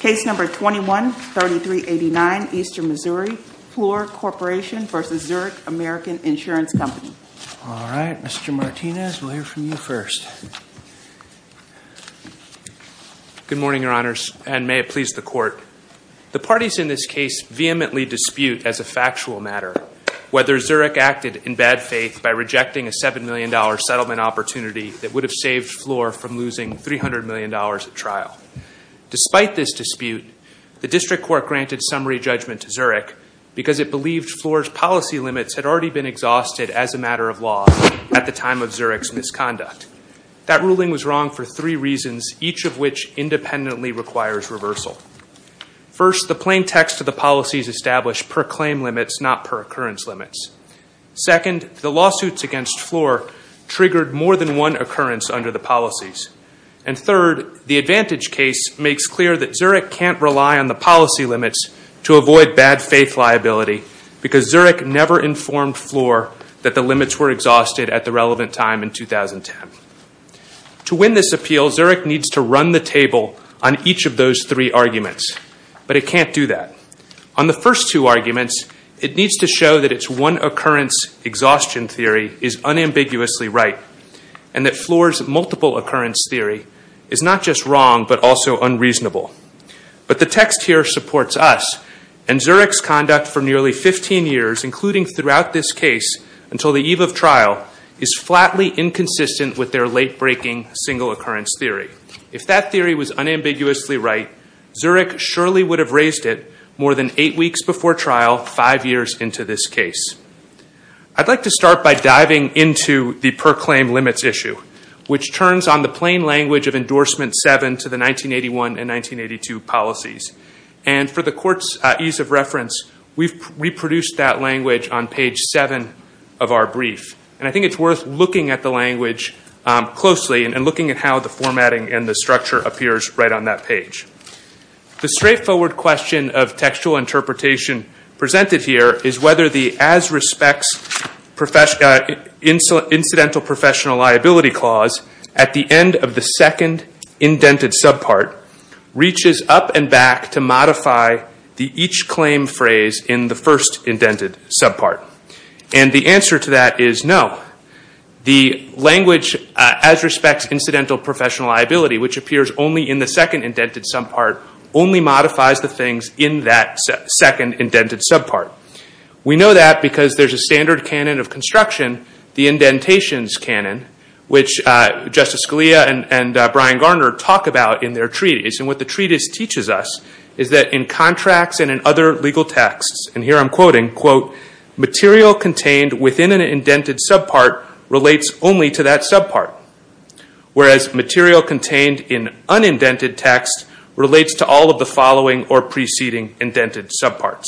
Case number 21-3389, Eastern Missouri, Flor Corporation versus Zurich American Insurance Company. All right, Mr. Martinez, we'll hear from you first. Good morning, your honors, and may it please the court. The parties in this case vehemently dispute as a factual matter whether Zurich acted in bad faith by rejecting a $7 million settlement opportunity that would have saved Flor from losing $300 million at trial. Despite this dispute, the district court granted summary judgment to Zurich because it believed Flor's policy limits had already been exhausted as a matter of law at the time of Zurich's misconduct. That ruling was wrong for three reasons, each of which independently requires reversal. First, the plain text of the policies established per claim limits, not per occurrence limits. Second, the lawsuits against Flor triggered more than one occurrence under the policies. And third, the advantage case makes clear that Zurich can't rely on the policy limits to avoid bad faith liability because Zurich never informed Flor that the limits were exhausted at the relevant time in 2010. To win this appeal, Zurich needs to run the table on each of those three arguments, but it can't do that. On the first two arguments, it needs to show that it's one occurrence exhaustion theory is unambiguously right, and that Flor's multiple occurrence theory is not just wrong, but also unreasonable. But the text here supports us, and Zurich's conduct for nearly 15 years, including throughout this case until the eve of trial, is flatly inconsistent with their late-breaking single occurrence theory. If that theory was unambiguously right, Zurich surely would have raised it more than eight weeks before trial, five years into this case. I'd like to start by diving into the per claim limits issue, which turns on the plain language of endorsement seven to the 1981 and 1982 policies. And for the court's ease of reference, we've reproduced that language on page seven of our brief. And I think it's worth looking at the language closely and looking at how the formatting and the structure appears right on that page. The straightforward question of textual interpretation presented here is whether the as respects incidental professional liability clause at the end of the second indented subpart reaches up and back to modify the each claim phrase in the first indented subpart. And the answer to that is no. The language as respects incidental professional liability, which appears only in the second indented subpart, only modifies the things in that second indented subpart. We know that because there's a standard canon of construction, the indentations canon, which Justice Scalia and Brian Garner talk about in their treaties. And what the treatise teaches us is that in contracts and in other legal texts, and here I'm quoting, quote, material contained within an indented subpart relates only to that subpart. Whereas material contained in unindented text relates to all of the following or preceding indented subparts.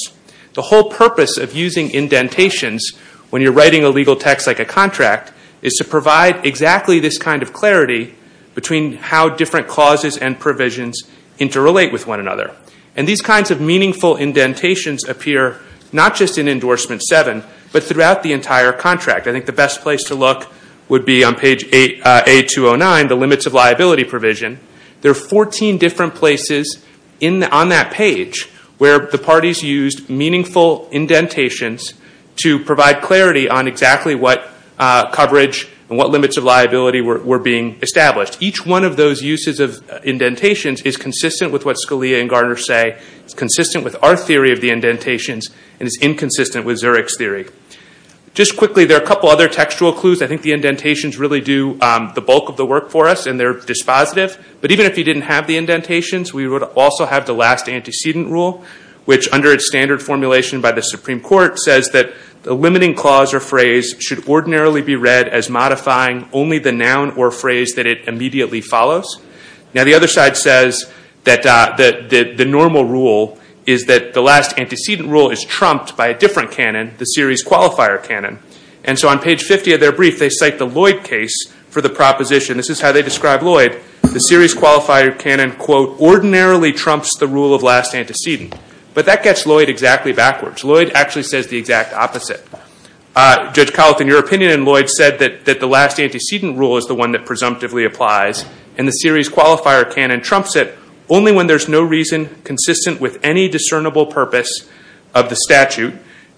The whole purpose of using indentations when you're writing a legal text like a contract is to provide exactly this kind of clarity between how different causes and provisions interrelate with one another. And these kinds of meaningful indentations appear not just in endorsement seven, but throughout the entire contract. I think the best place to look would be on page A209, the limits of liability provision. There are 14 different places on that page where the parties used meaningful indentations to provide clarity on exactly what coverage and what limits of liability were being established. Each one of those uses of indentations is consistent with what Scalia and Garner say, it's consistent with our theory of the indentations, and it's inconsistent with Zurich's theory. Just quickly, there are a couple other textual clues. I think the indentations really do the bulk of the work for us, and they're dispositive. But even if you didn't have the indentations, we would also have the last antecedent rule, which under its standard formulation by the Supreme Court says that the limiting clause or phrase should ordinarily be read as modifying only the noun or phrase that it immediately follows. Now the other side says that the normal rule is that the last antecedent rule is trumped by a different canon, the series qualifier canon. And so on page 50 of their brief, if they cite the Lloyd case for the proposition, this is how they describe Lloyd, the series qualifier canon, quote, ordinarily trumps the rule of last antecedent. But that gets Lloyd exactly backwards. Lloyd actually says the exact opposite. Judge Collett, in your opinion, and Lloyd said that the last antecedent rule is the one that presumptively applies, and the series qualifier canon trumps it only when there's no reason consistent with any discernible purpose of the statute,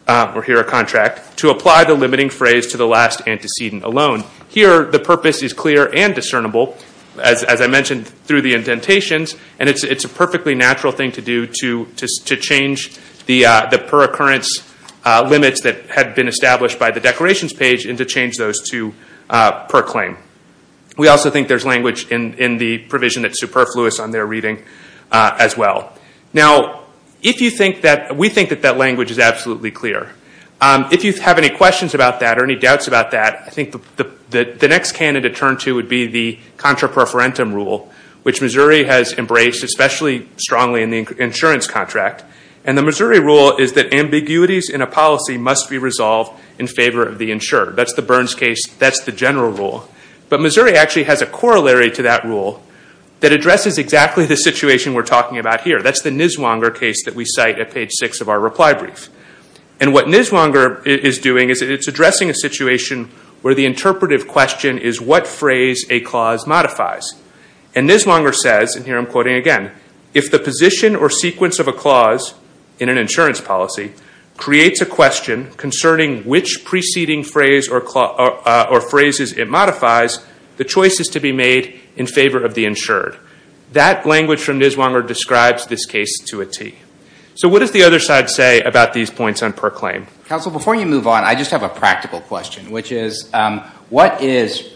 or here a contract, to apply the limiting phrase to the last antecedent alone. Here, the purpose is clear and discernible, as I mentioned through the indentations, and it's a perfectly natural thing to do to change the per-occurrence limits that had been established by the declarations page and to change those to per-claim. We also think there's language in the provision that's superfluous on their reading as well. Now, we think that that language is absolutely clear. If you have any questions about that or any doubts about that, I think the next canon to turn to would be the contra-preferentum rule, which Missouri has embraced, especially strongly in the insurance contract. And the Missouri rule is that ambiguities in a policy must be resolved in favor of the insured. That's the Burns case. That's the general rule. But Missouri actually has a corollary to that rule that addresses exactly the situation we're talking about here. That's the Niswonger case that we cite at page six of our reply brief. And what Niswonger is doing is it's addressing a situation where the interpretive question is what phrase a clause modifies. And Niswonger says, and here I'm quoting again, if the position or sequence of a clause in an insurance policy creates a question concerning which preceding phrase or phrases it modifies, the choice is to be made in favor of the insured. That language from Niswonger describes this case to a T. So what does the other side say about these points on per-claim? Council, before you move on, I just have a practical question, which is what is,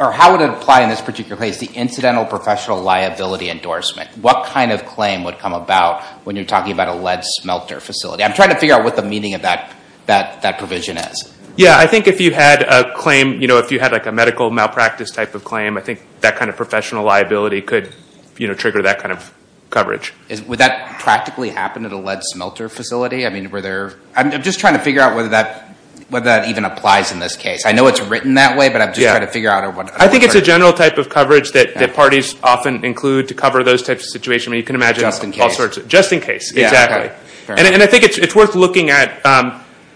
or how would it apply in this particular case, the incidental professional liability endorsement? What kind of claim would come about when you're talking about a lead smelter facility? I'm trying to figure out what the meaning of that provision is. Yeah, I think if you had a claim, if you had a medical malpractice type of claim, I think that kind of professional liability could trigger that kind of coverage. Would that practically happen at a lead smelter facility? I mean, were there? I'm just trying to figure out whether that even applies in this case. I know it's written that way, but I'm just trying to figure out. I think it's a general type of coverage that parties often include to cover those types of situations and you can imagine all sorts of, just in case, exactly. And I think it's worth looking at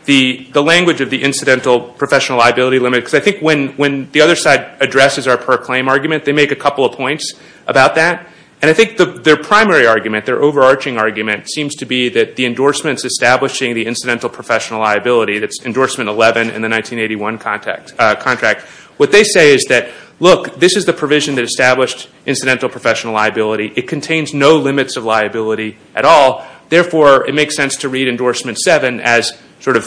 the language of the incidental professional liability limit because I think when the other side addresses our per-claim argument, they make a couple of points about that. And I think their primary argument, their overarching argument seems to be that the endorsements establishing the incidental professional liability, that's endorsement 11 in the 1981 contract, what they say is that, look, this is the provision that established incidental professional liability. It contains no limits of liability at all. Therefore, it makes sense to read endorsement seven as sort of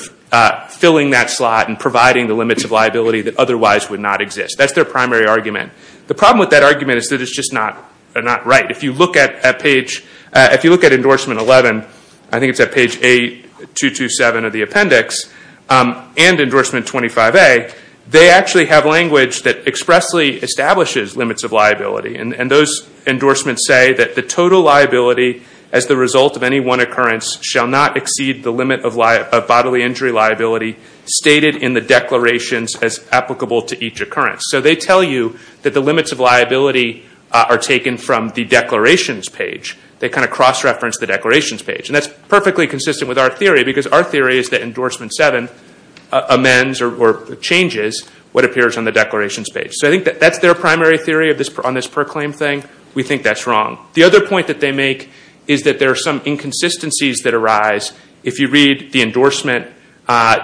filling that slot and providing the limits of liability that otherwise would not exist. That's their primary argument. The problem with that argument is that it's just not right. If you look at endorsement 11, I think it's at page 8227 of the appendix, and endorsement 25A, they actually have language that expressly establishes limits of liability. And those endorsements say that the total liability as the result of any one occurrence shall not exceed the limit of bodily injury liability stated in the declarations as applicable to each occurrence. So they tell you that the limits of liability are taken from the declarations page. They kind of cross-reference the declarations page. And that's perfectly consistent with our theory because our theory is that endorsement seven amends or changes what appears on the declarations page. So I think that that's their primary theory on this per claim thing. We think that's wrong. The other point that they make is that there are some inconsistencies that arise if you read the endorsement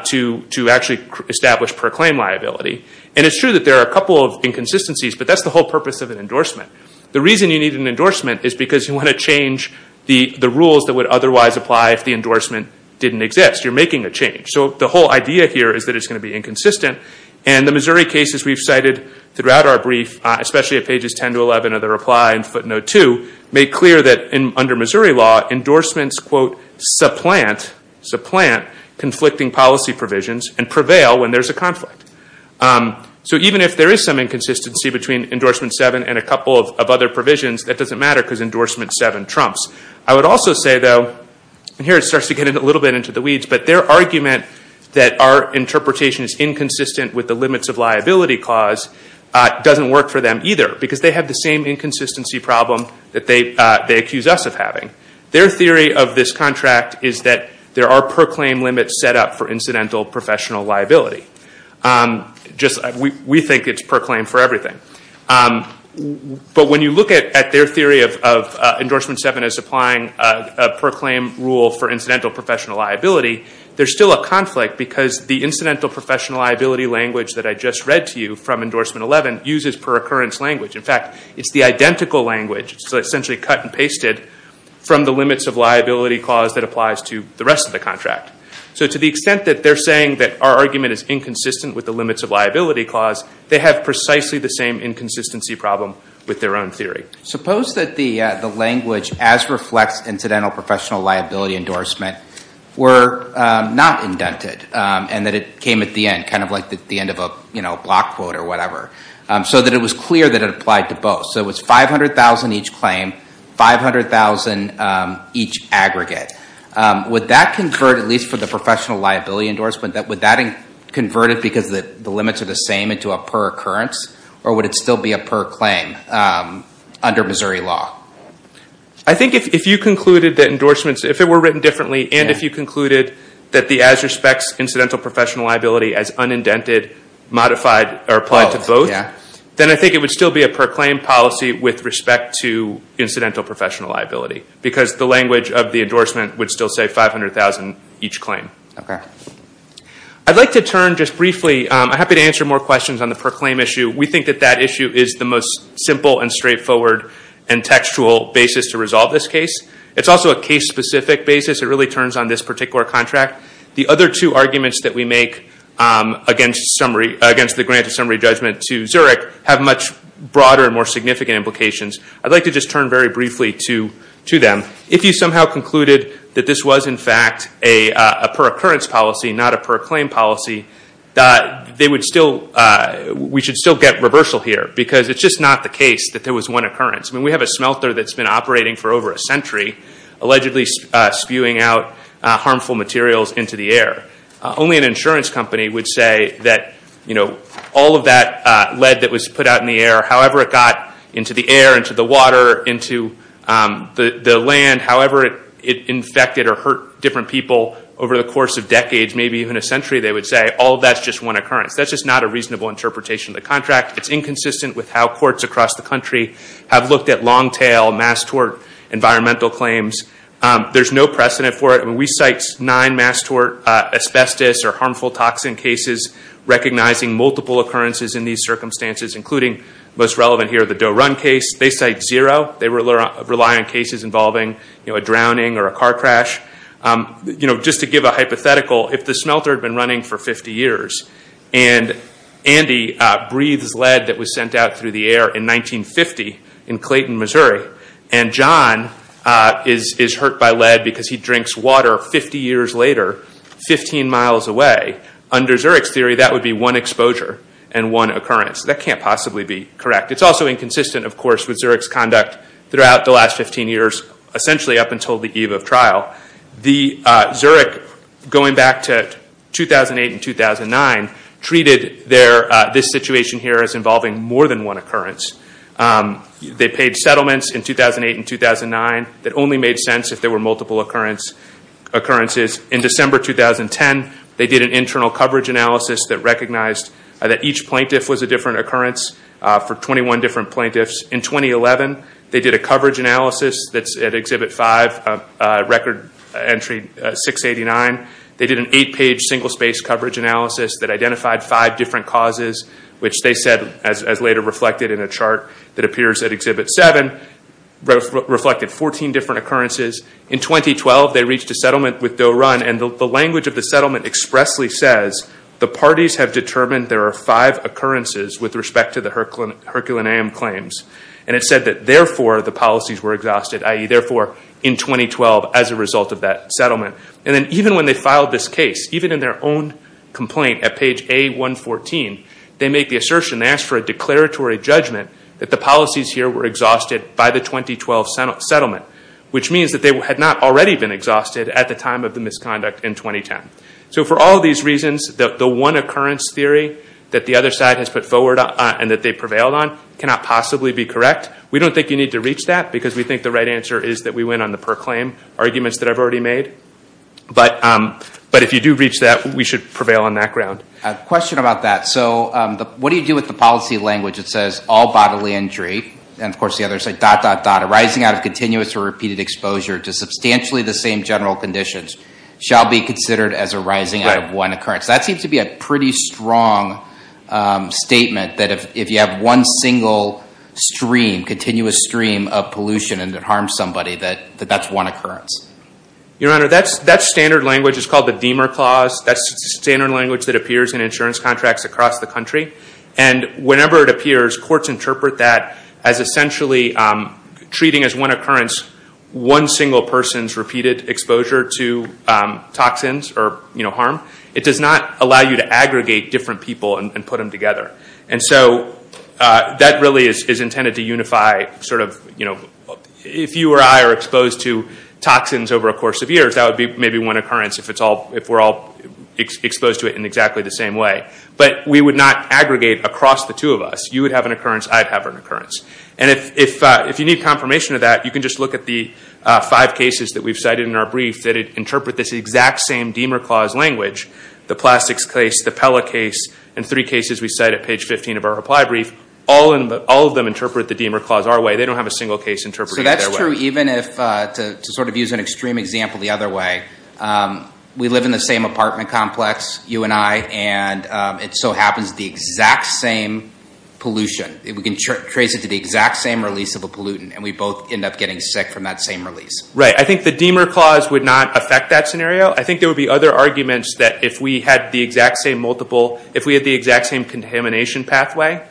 to actually establish per claim liability. And it's true that there are a couple of inconsistencies, but that's the whole purpose of an endorsement. The reason you need an endorsement is because you want to change the rules that would otherwise apply if the endorsement didn't exist. You're making a change. So the whole idea here is that it's gonna be inconsistent. And the Missouri cases we've cited throughout our brief, especially at pages 10 to 11 of the reply in footnote two, make clear that under Missouri law, endorsements, quote, supplant, supplant, conflicting policy provisions and prevail when there's a conflict. So even if there is some inconsistency between endorsement seven and a couple of other provisions, that doesn't matter because endorsement seven trumps. I would also say, though, and here it starts to get a little bit into the weeds, but their argument that our interpretation is inconsistent with the limits of liability clause doesn't work for them either because they have the same inconsistency problem that they accuse us of having. Their theory of this contract is that there are per claim limits set up for incidental professional liability. We think it's per claim for everything. But when you look at their theory of endorsement seven as applying a per claim rule for incidental professional liability, there's still a conflict because the incidental professional liability language that I just read to you from endorsement 11 uses per occurrence language. In fact, it's the identical language, so essentially cut and pasted, from the limits of liability clause that applies to the rest of the contract. So to the extent that they're saying that our argument is inconsistent with the limits of liability clause, they have precisely the same inconsistency problem with their own theory. Suppose that the language as reflects incidental professional liability endorsement were not indented and that it came at the end, kind of like the end of a block quote or whatever, so that it was clear that it applied to both. So it's 500,000 each claim, 500,000 each aggregate. Would that convert, at least for the professional liability endorsement, that would that convert it because the limits are the same into a per occurrence? Or would it still be a per claim under Missouri law? I think if you concluded that endorsements, if it were written differently and if you concluded that the as respects incidental professional liability as unindented, modified, or applied to both, then I think it would still be a per claim policy with respect to incidental professional liability because the language of the endorsement would still say 500,000 each claim. Okay. I'd like to turn just briefly, I'm happy to answer more questions on the per claim issue. We think that that issue is the most simple and straightforward and textual basis to resolve this case. It's also a case specific basis. It really turns on this particular contract. The other two arguments that we make against the grant of summary judgment to Zurich have much broader and more significant implications. I'd like to just turn very briefly to them. If you somehow concluded that this was in fact a per occurrence policy, not a per claim policy, we should still get reversal here because it's just not the case that there was one occurrence. I mean, we have a smelter that's been operating for over a century, allegedly spewing out harmful materials into the air. Only an insurance company would say that all of that lead that was put out in the air, however it got into the air, into the water, into the land, however it infected or hurt different people over the course of decades, maybe even a century, they would say, all of that's just one occurrence. That's just not a reasonable interpretation of the contract. It's inconsistent with how courts across the country have looked at long tail mass tort environmental claims. There's no precedent for it. I mean, we cite nine mass tort asbestos or harmful toxin cases, recognizing multiple occurrences in these circumstances, including most relevant here, the Doe Run case. They cite zero. They rely on cases involving a drowning or a car crash. Just to give a hypothetical, if the smelter had been running for 50 years and Andy breathes lead that was sent out through the air in 1950 in Clayton, Missouri, and John is hurt by lead because he drinks water 50 years later, 15 miles away, under Zurich's theory, that would be one exposure and one occurrence. That can't possibly be correct. It's also inconsistent, of course, with Zurich's conduct throughout the last 15 years, essentially up until the eve of trial. The Zurich, going back to 2008 and 2009, treated this situation here as involving more than one occurrence. They paid settlements in 2008 and 2009 that only made sense if there were multiple occurrences. In December 2010, they did an internal coverage analysis that recognized that each plaintiff was a different occurrence for 21 different plaintiffs. In 2011, they did a coverage analysis that's at Exhibit 5, record entry 689. They did an eight-page single-space coverage analysis that identified five different causes, which they said, as later reflected in a chart that appears at Exhibit 7, reflected 14 different occurrences. In 2012, they reached a settlement with Doe Run, and the language of the settlement expressly says, the parties have determined there are five occurrences with respect to the Herculaneum claims. And it said that, therefore, the policies were exhausted, i.e., therefore, in 2012, as a result of that settlement. And then, even when they filed this case, even in their own complaint at page A114, they make the assertion, they ask for a declaratory judgment that the policies here were exhausted by the 2012 settlement, which means that they had not already been exhausted at the time of the misconduct in 2010. So, for all these reasons, the one occurrence theory that the other side has put forward and that they prevailed on cannot possibly be correct. We don't think you need to reach that because we think the right answer is that we went on the per-claim arguments that I've already made. But if you do reach that, we should prevail on that ground. Question about that. So, what do you do with the policy language that says, all bodily injury, and, of course, the other side, dot, dot, dot, arising out of continuous or repeated exposure to substantially the same general conditions shall be considered as arising out of one occurrence. That seems to be a pretty strong statement that if you have one single stream, continuous stream of pollution, and it harms somebody, that that's one occurrence. Your Honor, that's standard language. It's called the Deamer Clause. That's standard language that appears in insurance contracts across the country. And whenever it appears, courts interpret that as essentially treating as one occurrence one single person's repeated exposure to toxins or harm. It does not allow you to aggregate different people and put them together. And so, that really is intended to unify, sort of, if you or I are exposed to toxins over a course of years, that would be maybe one occurrence if we're all exposed to it in exactly the same way. But we would not aggregate across the two of us. You would have an occurrence, I'd have an occurrence. And if you need confirmation of that, you can just look at the five cases that we've cited in our brief that interpret this exact same Deamer Clause language. The plastics case, the Pella case, and three cases we cite at page 15 of our reply brief, all of them interpret the Deamer Clause our way. They don't have a single case interpreted their way. So that's true even if, to sort of use an extreme example the other way, we live in the same apartment complex, you and I, and it so happens the exact same pollution. We can trace it to the exact same release of a pollutant, and we both end up getting sick from that same release. Right, I think the Deamer Clause would not affect that scenario. I think there would be other arguments that if we had the exact same multiple, if we had the exact same contamination pathway,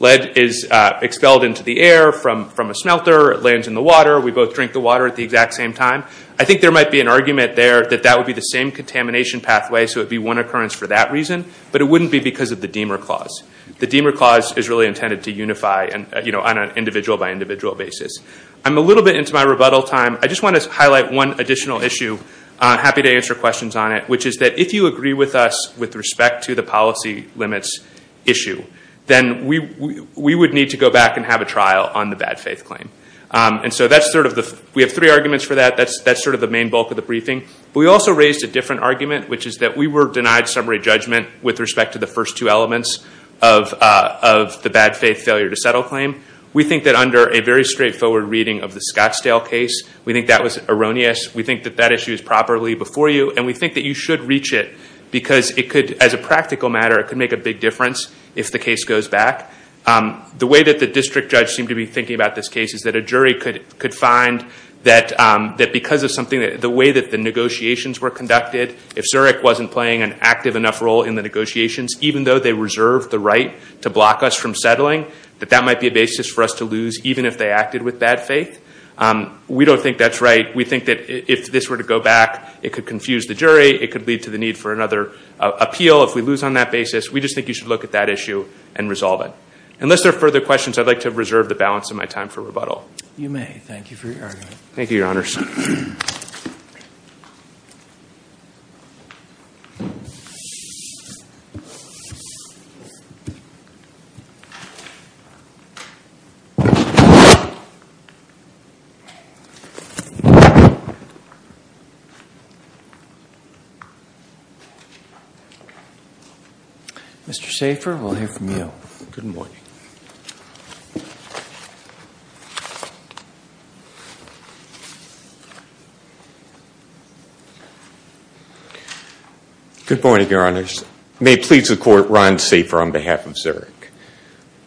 lead is expelled into the air from a smelter, it lands in the water, we both drink the water at the exact same time. I think there might be an argument there that that would be the same contamination pathway, so it'd be one occurrence for that reason. But it wouldn't be because of the Deamer Clause. The Deamer Clause is really intended to unify on an individual by individual basis. I'm a little bit into my rebuttal time. I just want to highlight one additional issue. I'm happy to answer questions on it, which is that if you agree with us with respect to the policy limits issue, then we would need to go back and have a trial on the bad faith claim. And so that's sort of the, we have three arguments for that. That's sort of the main bulk of the briefing. We also raised a different argument, which is that we were denied summary judgment with respect to the first two elements of the bad faith failure to settle claim. We think that under a very straightforward reading of the Scottsdale case, we think that was erroneous. We think that that issue is properly before you, and we think that you should reach it because it could, as a practical matter, it could make a big difference if the case goes back. The way that the district judge seemed to be thinking about this case is that a jury could find that because of something, the way that the negotiations were conducted, if Zurich wasn't playing an active enough role in the negotiations, even though they reserved the right to block us from settling, that that might be a basis for us to lose, even if they acted with bad faith. We don't think that's right. We think that if this were to go back, it could confuse the jury, it could lead to the need for another appeal. If we lose on that basis, we just think you should look at that issue and resolve it. Unless there are further questions, I'd like to reserve the balance of my time for rebuttal. You may, thank you for your argument. Thank you, your honors. Mr. Safer, we'll hear from you. Good morning. Good morning, your honors. May it please the court, Ron Safer on behalf of Zurich.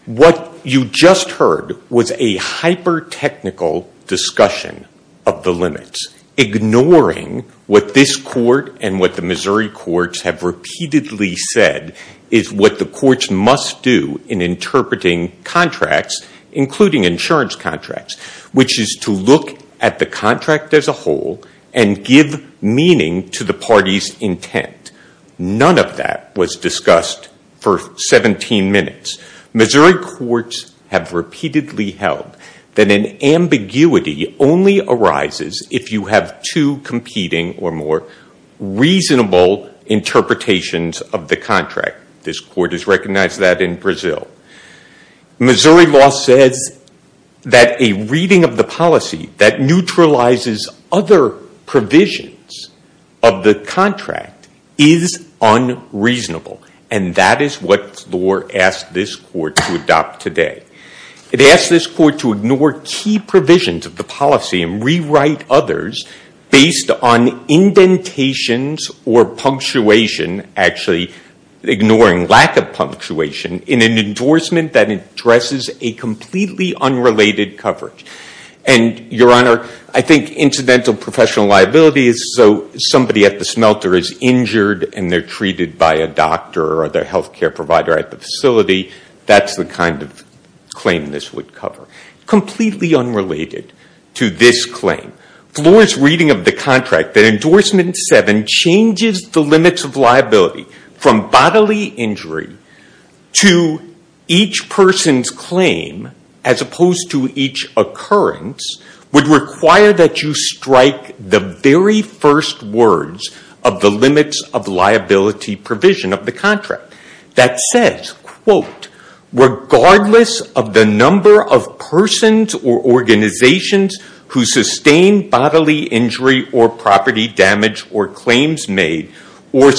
what the purpose of this hearing is. What you just heard was a hyper-technical discussion of the limits, ignoring what this court and what the Missouri courts have repeatedly said is what the courts must do in interpreting contracts, including insurance contracts, which is to look at the contract as a whole and give meaning to the party's intent. None of that was discussed for 17 minutes. Missouri courts have repeatedly held that an ambiguity only arises if you have two competing or more reasonable interpretations of the contract. This court has recognized that in Brazil. Missouri law says that a reading of the policy that neutralizes other provisions of the contract is unreasonable. And that is what floor asked this court to adopt today. It asked this court to ignore key provisions of the policy and rewrite others based on indentations or punctuation, actually ignoring lack of punctuation in an endorsement that addresses a completely unrelated coverage. And your honor, I think incidental professional liability is so somebody at the smelter is injured and they're treated by a doctor or their healthcare provider at the facility. That's the kind of claim this would cover. Completely unrelated to this claim, Florence reading of the contract that endorsement seven changes the limits of liability from bodily injury to each person's claim as opposed to each occurrence would require that you strike the very first words of the limits of liability provision of the contract that says, quote, regardless of the number of persons or organizations who sustain bodily injury or property damage or claims made or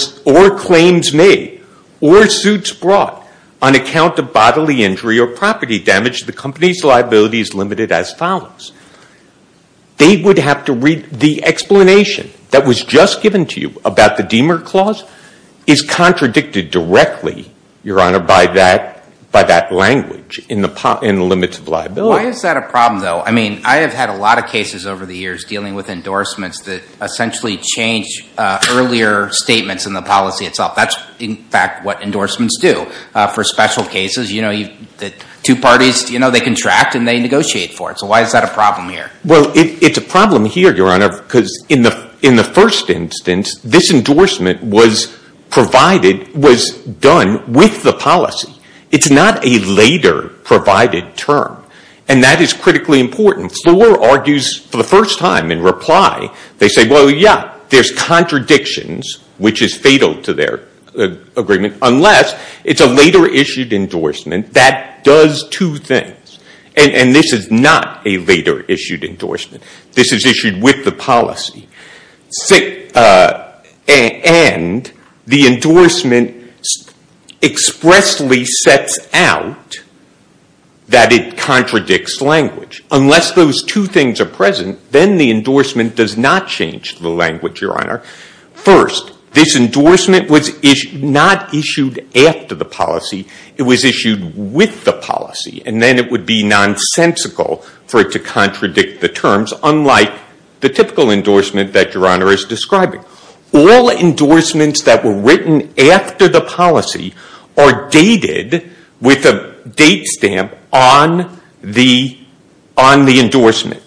suits brought on account of bodily injury or property damage, the company's liability is limited as follows. They would have to read the explanation that was just given to you about the Deamer Clause is contradicted directly, your honor, by that language in the limits of liability. Why is that a problem though? I mean, I have had a lot of cases over the years dealing with endorsements that essentially change earlier statements in the policy itself. That's in fact what endorsements do for special cases. You know, two parties, you know, they contract and they negotiate for it. So why is that a problem here? Well, it's a problem here, your honor, because in the first instance, this endorsement was provided, was done with the policy. It's not a later provided term. And that is critically important. Floor argues for the first time in reply, they say, well, yeah, there's contradictions, which is fatal to their agreement, unless it's a later issued endorsement that does two things. And this is not a later issued endorsement. This is issued with the policy. And the endorsement expressly sets out that it contradicts language. Unless those two things are present, then the endorsement does not change the language, your honor. First, this endorsement was not issued after the policy. It was issued with the policy. And then it would be nonsensical for it to contradict the terms, unlike the typical endorsement that your honor is describing. All endorsements that were written after the policy are dated with a date stamp on the endorsement.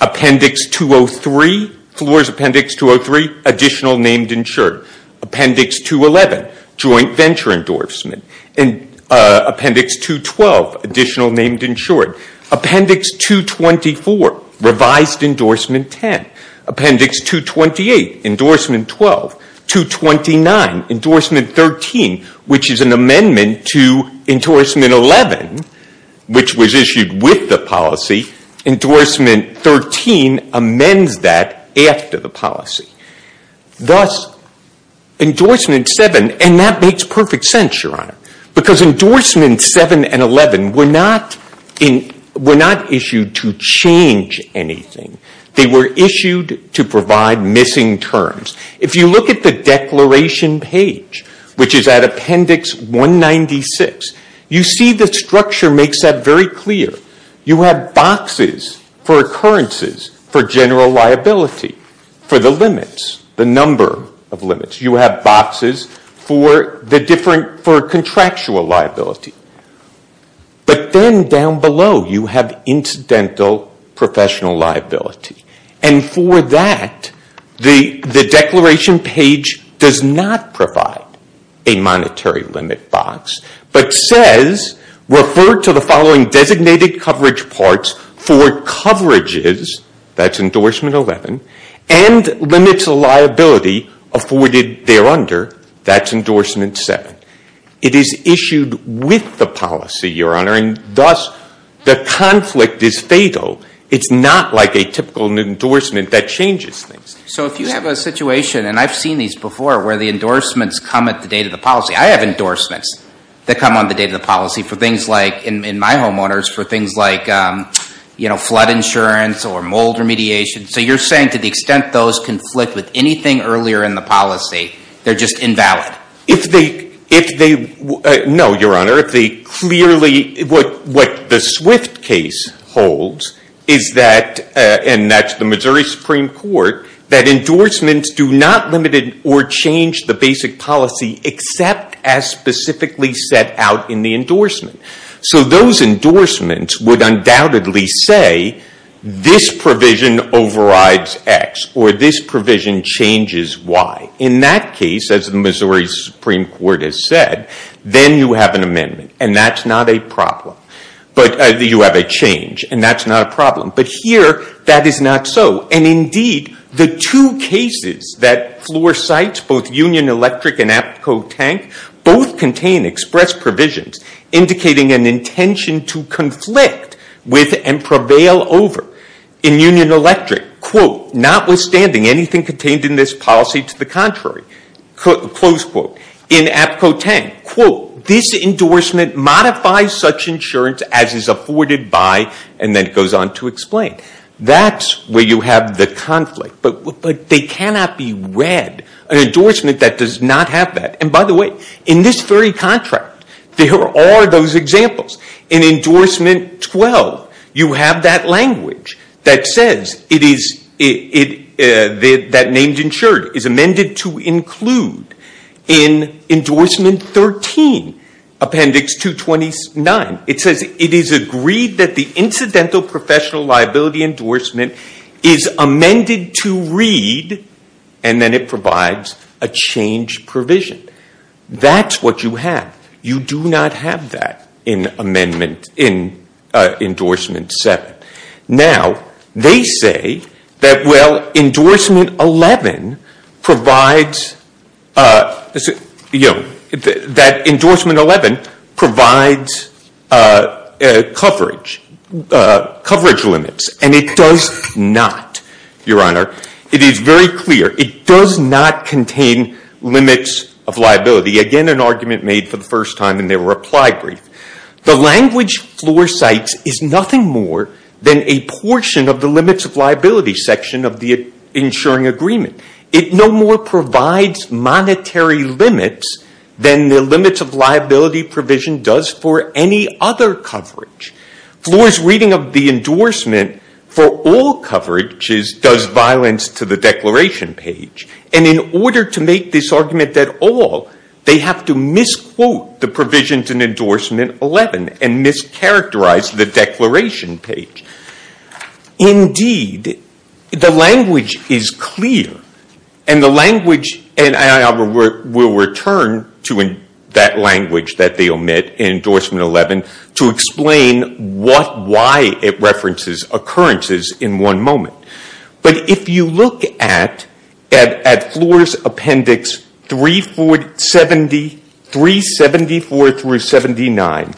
Appendix 203, floor is appendix 203, additional named insured. Appendix 211, joint venture endorsement. And appendix 212, additional named insured. Appendix 224, revised endorsement 10. Appendix 228, endorsement 12. 229, endorsement 13, which is an amendment to endorsement 11, which was issued with the policy. Endorsement 13 amends that after the policy. Thus, endorsement seven, and that makes perfect sense, your honor. Because endorsements seven and 11 were not issued to change anything. They were issued to provide missing terms. If you look at the declaration page, which is at appendix 196, you see the structure makes that very clear. You have boxes for occurrences, for general liability, for the limits, the number of limits. You have boxes for contractual liability. But then down below, you have incidental professional liability. And for that, the declaration page does not provide a monetary limit box, but says, refer to the following designated coverage parts for coverages, that's endorsement 11, and limits of liability afforded there under, that's endorsement seven. It is issued with the policy, your honor, and thus, the conflict is fatal. It's not like a typical endorsement that changes things. So if you have a situation, and I've seen these before, where the endorsements come at the date of the policy. I have endorsements that come on the date of the policy for things like, in my homeowners, for things like flood insurance or mold remediation. So you're saying to the extent those conflict with anything earlier in the policy, they're just invalid. If they, no, your honor, if they clearly, what the Swift case holds, is that, and that's the Missouri Supreme Court, that endorsements do not limit it or change the basic policy, except as specifically set out in the endorsement. So those endorsements would undoubtedly say, this provision overrides X, or this provision changes Y. In that case, as the Missouri Supreme Court has said, then you have an amendment, and that's not a problem. But you have a change, and that's not a problem. But here, that is not so. And indeed, the two cases that floor sites, both Union Electric and Aptco Tank, both contain express provisions indicating an intention to conflict with and prevail over. In Union Electric, quote, notwithstanding anything contained in this policy to the contrary, close quote. In Aptco Tank, quote, this endorsement modifies such insurance as is afforded by, and then it goes on to explain. That's where you have the conflict. But they cannot be read, an endorsement that does not have that. And by the way, in this very contract, there are those examples. In endorsement 12, you have that language that says that named insured is amended to include in endorsement 13, appendix 229. It says it is agreed that the incidental professional liability endorsement is amended to read, and then it provides a change provision. That's what you have. You do not have that in endorsement seven. Now, they say that, well, endorsement 11 provides, that endorsement 11 provides coverage limits, and it does not, Your Honor. It is very clear. It does not contain limits of liability. Again, an argument made for the first time in their reply brief. The language Floor cites is nothing more than a portion of the limits of liability section of the insuring agreement. It no more provides monetary limits than the limits of liability provision does for any other coverage. Floor's reading of the endorsement for all coverages does violence to the declaration page. And in order to make this argument at all, they have to misquote the provisions in endorsement 11 and mischaracterize the declaration page. Indeed, the language is clear, and the language, and I will return to that language that they omit in endorsement 11 to explain what, why it references occurrences in one moment. But if you look at Floor's appendix 347, 374 through 79,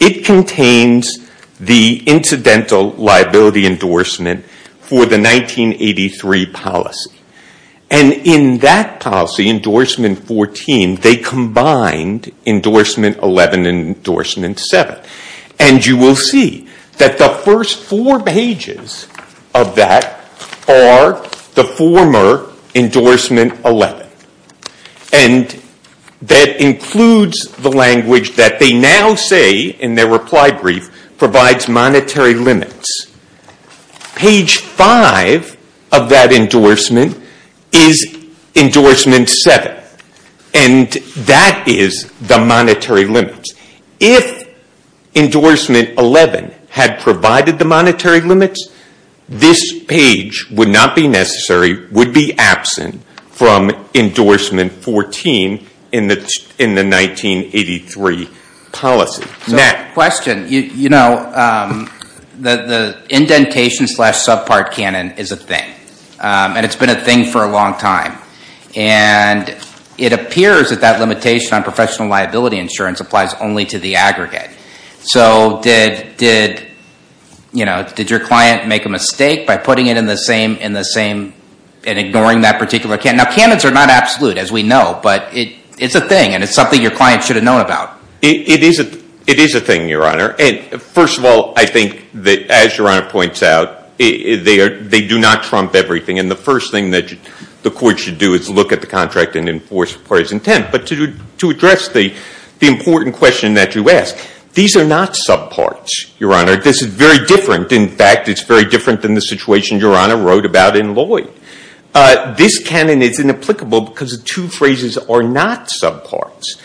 it contains the incidental liability endorsement for the 1983 policy. And in that policy, endorsement 14, they combined endorsement 11 and endorsement seven. And you will see that the first four pages of that are the former endorsement 11. And that includes the language that they now say in their reply brief, provides monetary limits. Page five of that endorsement is endorsement seven. And that is the monetary limits. If endorsement 11 had provided the monetary limits, this page would not be necessary, would be absent from endorsement 14 in the 1983 policy. Matt. Question, you know, the indentation slash subpart canon is a thing, and it's been a thing for a long time. And it appears that that limitation on professional liability insurance So did your client make a mistake by putting it in the same, in the same, and ignoring that particular canon? Now, canons are not absolute as we know, but it's a thing and it's something your client should have known about. It is a thing, Your Honor. And first of all, I think that as Your Honor points out, they do not trump everything. And the first thing that the court should do is look at the contract and enforce the parties intent. But to address the important question that you asked, these are not subparts, Your Honor. This is very different. In fact, it's very different than the situation Your Honor wrote about in Lloyd. This canon is inapplicable because the two phrases are not subparts.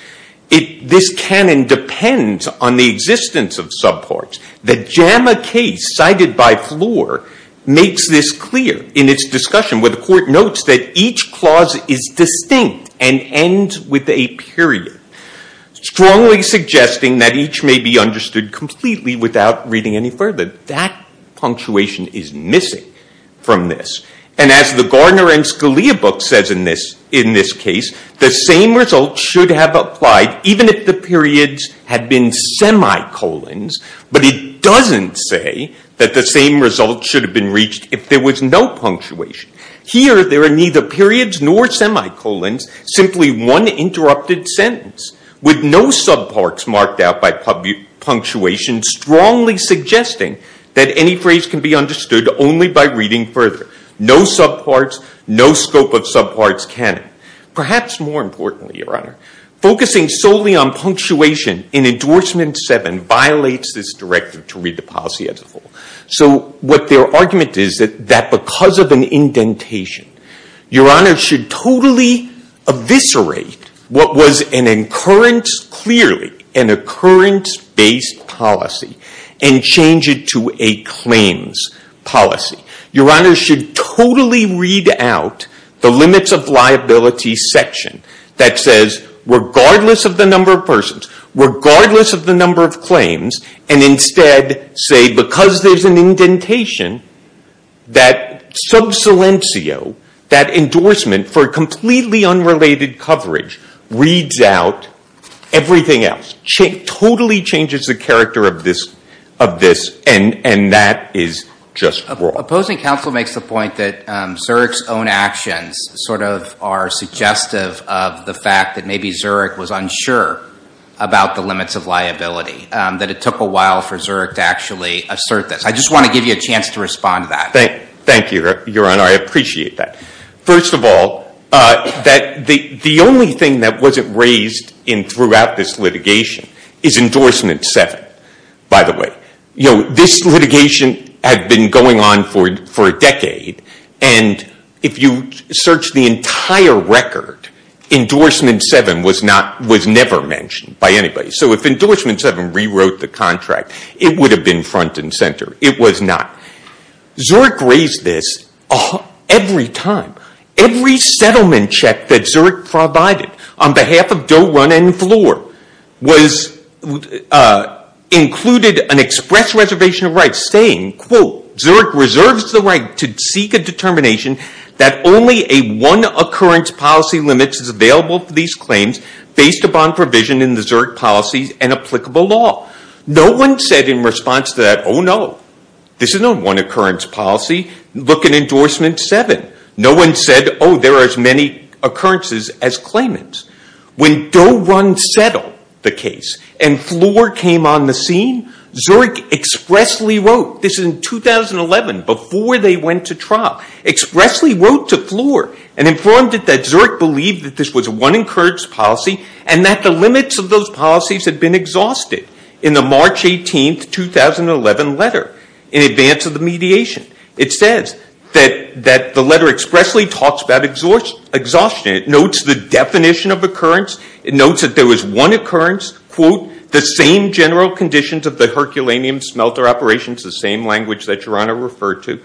This canon depends on the existence of subparts. The JAMA case cited by Floor makes this clear in its discussion, where the court notes that each clause is distinct and ends with a period, strongly suggesting that each may be understood completely without reading any further. That punctuation is missing from this. And as the Gardner and Scalia book says in this case, the same result should have applied even if the periods had been semicolons. But it doesn't say that the same result should have been reached if there was no punctuation. Here, there are neither periods nor semicolons, simply one interrupted sentence, with no subparts marked out by punctuation, strongly suggesting that any phrase can be understood only by reading further. No subparts, no scope of subparts canon. Perhaps more importantly, Your Honor, focusing solely on punctuation in endorsement seven violates this directive to read the policy as a whole. So what their argument is that because of an indentation, Your Honor should totally eviscerate what was an occurrence, clearly, an occurrence-based policy and change it to a claims policy. Your Honor should totally read out the limits of liability section that says, regardless of the number of persons, regardless of the number of claims, and instead say, because there's an indentation, that sub silencio, that endorsement for completely unrelated coverage, reads out everything else. Totally changes the character of this, and that is just wrong. Opposing counsel makes the point that Zurich's own actions sort of are suggestive of the fact that maybe Zurich was unsure about the limits of liability, that it took a while for Zurich to actually assert this. I just want to give you a chance to respond to that. Thank you, Your Honor. I appreciate that. First of all, the only thing that wasn't raised throughout this litigation is endorsement seven, by the way. This litigation had been going on for a decade, and if you search the entire record, endorsement seven was never mentioned by anybody. So if endorsement seven rewrote the contract, it would have been front and center. It was not. Zurich raised this every time. Every settlement check that Zurich provided on behalf of Doe Run and Floor included an express reservation of rights saying, quote, Zurich reserves the right to seek a determination that only a one occurrence policy limit is available for these claims based upon provision in the Zurich policies and applicable law. No one said in response to that, oh, no. This is not a one occurrence policy. Look at endorsement seven. No one said, oh, there are as many occurrences as claimants. When Doe Run settled the case and Floor came on the scene, Zurich expressly wrote this in 2011, before they went to trial, expressly wrote to Floor and informed it that Zurich believed that this was a one occurrence policy and that the limits of those policies had been exhausted in the March 18, 2011 letter in advance of the mediation. It says that the letter expressly talks about exhaustion. It notes the definition of occurrence. It notes that there was one occurrence, quote, the same general conditions of the herculaneum smelter operations, the same language that Your Honor referred to.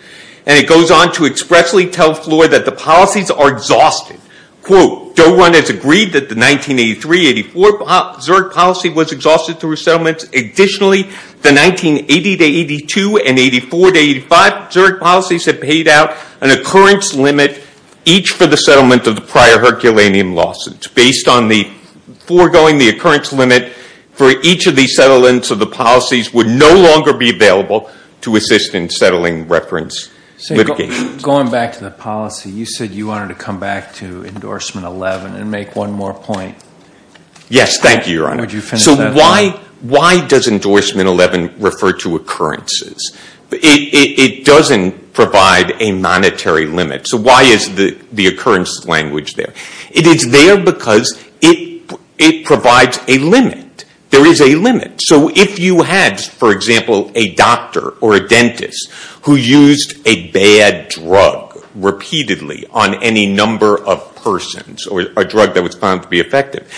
And it goes on to expressly tell Floor that the policies are exhausted. Quote, Doe Run has agreed that the 1983-84 Zurich policy was exhausted through a settlement. Additionally, the 1980-82 and 84-85 Zurich policies have paid out an occurrence limit, each for the settlement of the prior herculaneum lawsuits. Based on the foregoing, the occurrence limit for each of these settlements of the policies would no longer be available to assist in settling reference litigation. Going back to the policy, you said you wanted to come back to endorsement 11 and make one more point. Yes, thank you, Your Honor. Would you finish that? So why does endorsement 11 refer to occurrences? It doesn't provide a monetary limit. So why is the occurrence language there? It is there because it provides a limit. There is a limit. So if you had, for example, a doctor or a dentist who used a bad drug repeatedly on any number of persons, or a drug that was found to be effective,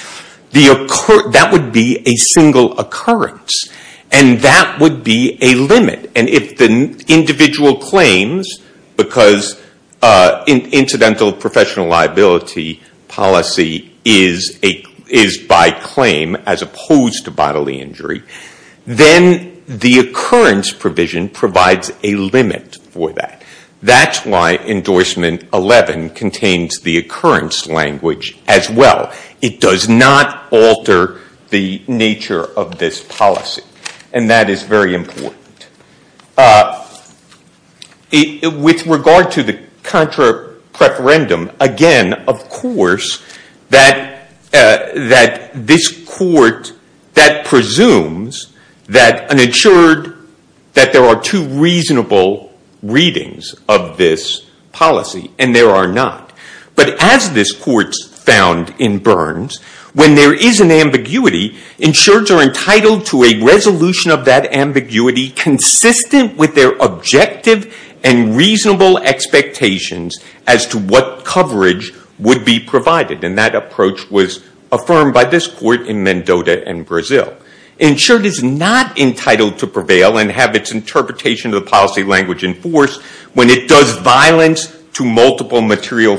that would be a single occurrence. And that would be a limit. And if the individual claims, because in incidental professional liability policy is by claim as opposed to bodily injury, then the occurrence provision provides a limit for that. That's why endorsement 11 contains the occurrence language as well. It does not alter the nature of this policy. And that is very important. With regard to the contra preferendum, again, of course, that this court, that presumes that an insured, that there are two reasonable readings of this policy, and there are not. But as this court found in Burns, when there is an ambiguity, insureds are entitled to a resolution of that ambiguity consistent with their objective and reasonable expectations as to what coverage would be provided. And that approach was affirmed by this court in Mendota and Brazil. Insured is not entitled to prevail and have its interpretation of the policy language enforced when it does violence to multiple material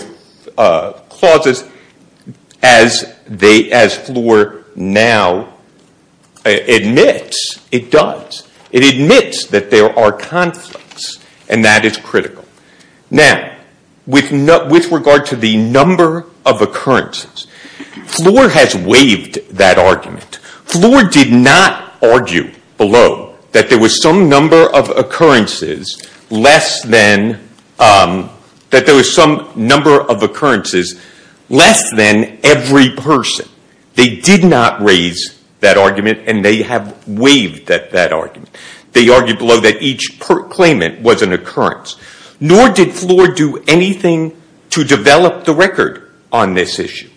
clauses, as Floor now admits it does. It admits that there are conflicts. And that is critical. Now, with regard to the number of occurrences, Floor has waived that argument. Floor did not argue below that there was some number of occurrences less than every person. They did not raise that argument. And they have waived that argument. They argued below that each claimant was an occurrence. Nor did Floor do anything to develop the record on this issue.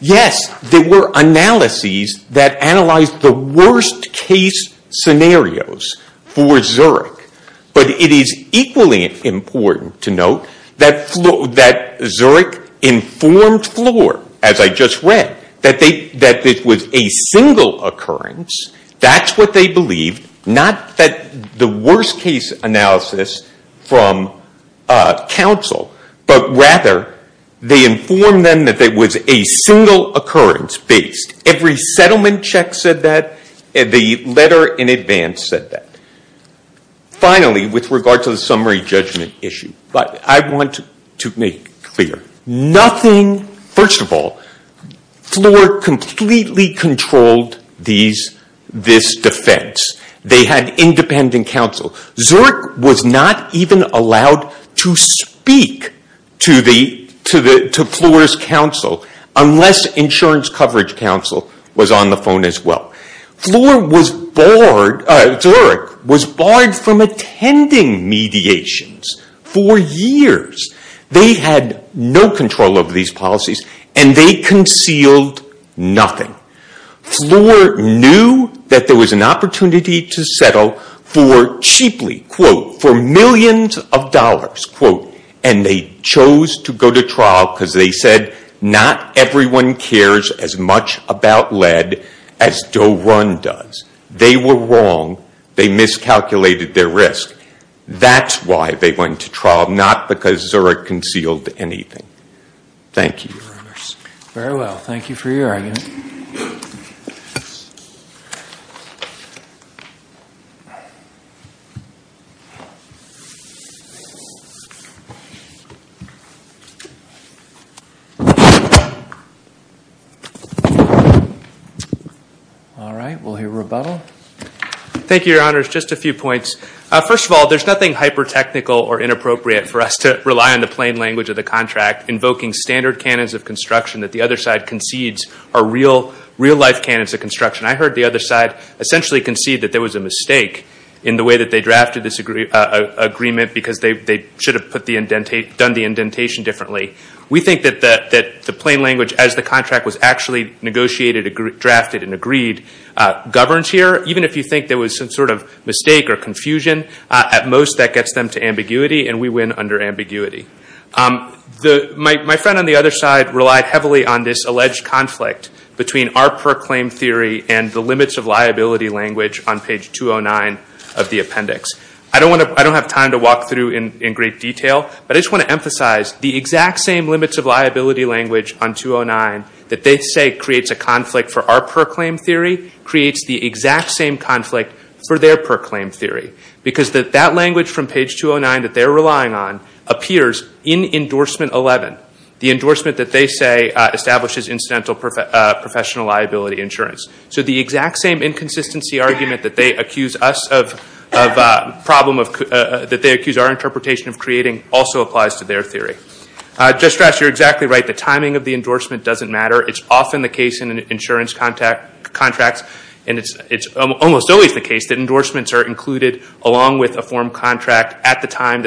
Yes, there were analyses that analyzed the worst case scenarios for Zurich. But it is equally important to note that Zurich informed Floor, as I just read, that it was a single occurrence. That's what they believe. Not that the worst case analysis from counsel, but rather, they informed them that there was a single occurrence based. Every settlement check said that. The letter in advance said that. Finally, with regard to the summary judgment issue, I want to make clear. First of all, Floor completely controlled this defense. They had independent counsel. Zurich was not even allowed to speak to Floor's counsel unless insurance coverage counsel was on the phone as well. Zurich was barred from attending mediations for years. They had no control over these policies. And they concealed nothing. Floor knew that there was an opportunity to settle for cheaply, quote, for millions of dollars, quote. And they chose to go to trial because they said not everyone cares as much about lead as Doe Run does. They were wrong. They miscalculated their risk. That's why they went to trial, not because Zurich concealed anything. Thank you. Very well. Thank you for your argument. Thank you. All right, we'll hear rebuttal. Thank you, Your Honors. Just a few points. First of all, there's nothing hyper-technical or inappropriate for us to rely on the plain language of the contract invoking standard canons of construction that the other side concedes are real life canons of construction. I heard the other side essentially concede that there was a mistake in the way that they drafted this agreement because they should have done the indentation differently. We think that the plain language, as the contract was actually negotiated, drafted, and agreed, governs here. Even if you think there was some sort of mistake or confusion, at most that gets them to ambiguity. And we win under ambiguity. My friend on the other side relied heavily on this alleged conflict between our proclaimed theory and the limits of liability language on page 209 of the appendix. I don't have time to walk through in great detail, but I just want to emphasize the exact same limits of liability language on 209 that they say creates a conflict for our proclaimed theory creates the exact same conflict for their proclaimed theory. Because that language from page 209 that they're relying on appears in endorsement 11. The endorsement that they say establishes incidental professional liability insurance. So the exact same inconsistency argument that they accuse our interpretation of creating also applies to their theory. Just to stress, you're exactly right. The timing of the endorsement doesn't matter. It's often the case in insurance contracts, and it's almost always the case that endorsements are included along with a form contract at the time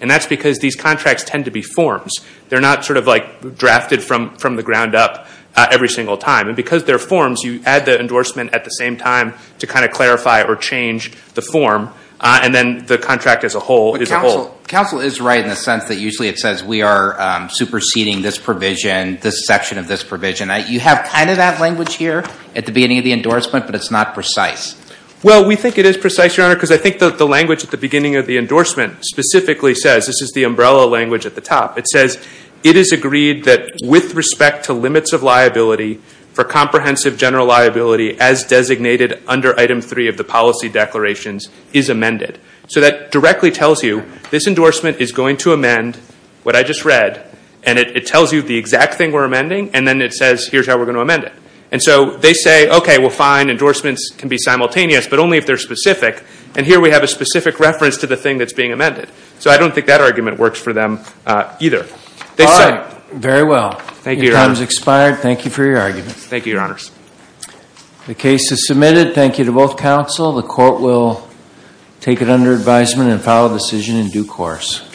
And that's because these contracts tend to be forms. They're not drafted from the ground up every single time. And because they're forms, you add the endorsement at the same time to clarify or change the form, and then the contract as a whole is a whole. Counsel is right in the sense that usually it says we are superseding this provision, this section of this provision. You have that language here at the beginning of the endorsement, but it's not precise. Well, we think it is precise, Your Honor, because I think that the language at the beginning of the endorsement specifically says, this is the umbrella language at the top. It says, it is agreed that with respect to limits of liability for comprehensive general liability as designated under item three of the policy declarations is amended. So that directly tells you this endorsement is going to amend what I just read, and it tells you the exact thing we're amending, and then it says here's how we're going to amend it. And so they say, OK, well, fine, endorsements can be simultaneous, but only if they're specific. And here we have a specific reference to the thing that's being amended. So I don't think that argument works for them, either. They said. Very well. Thank you, Your Honor. Your time's expired. Thank you for your argument. Thank you, Your Honors. The case is submitted. Thank you to both counsel. The court will take it under advisement and file a decision in due course.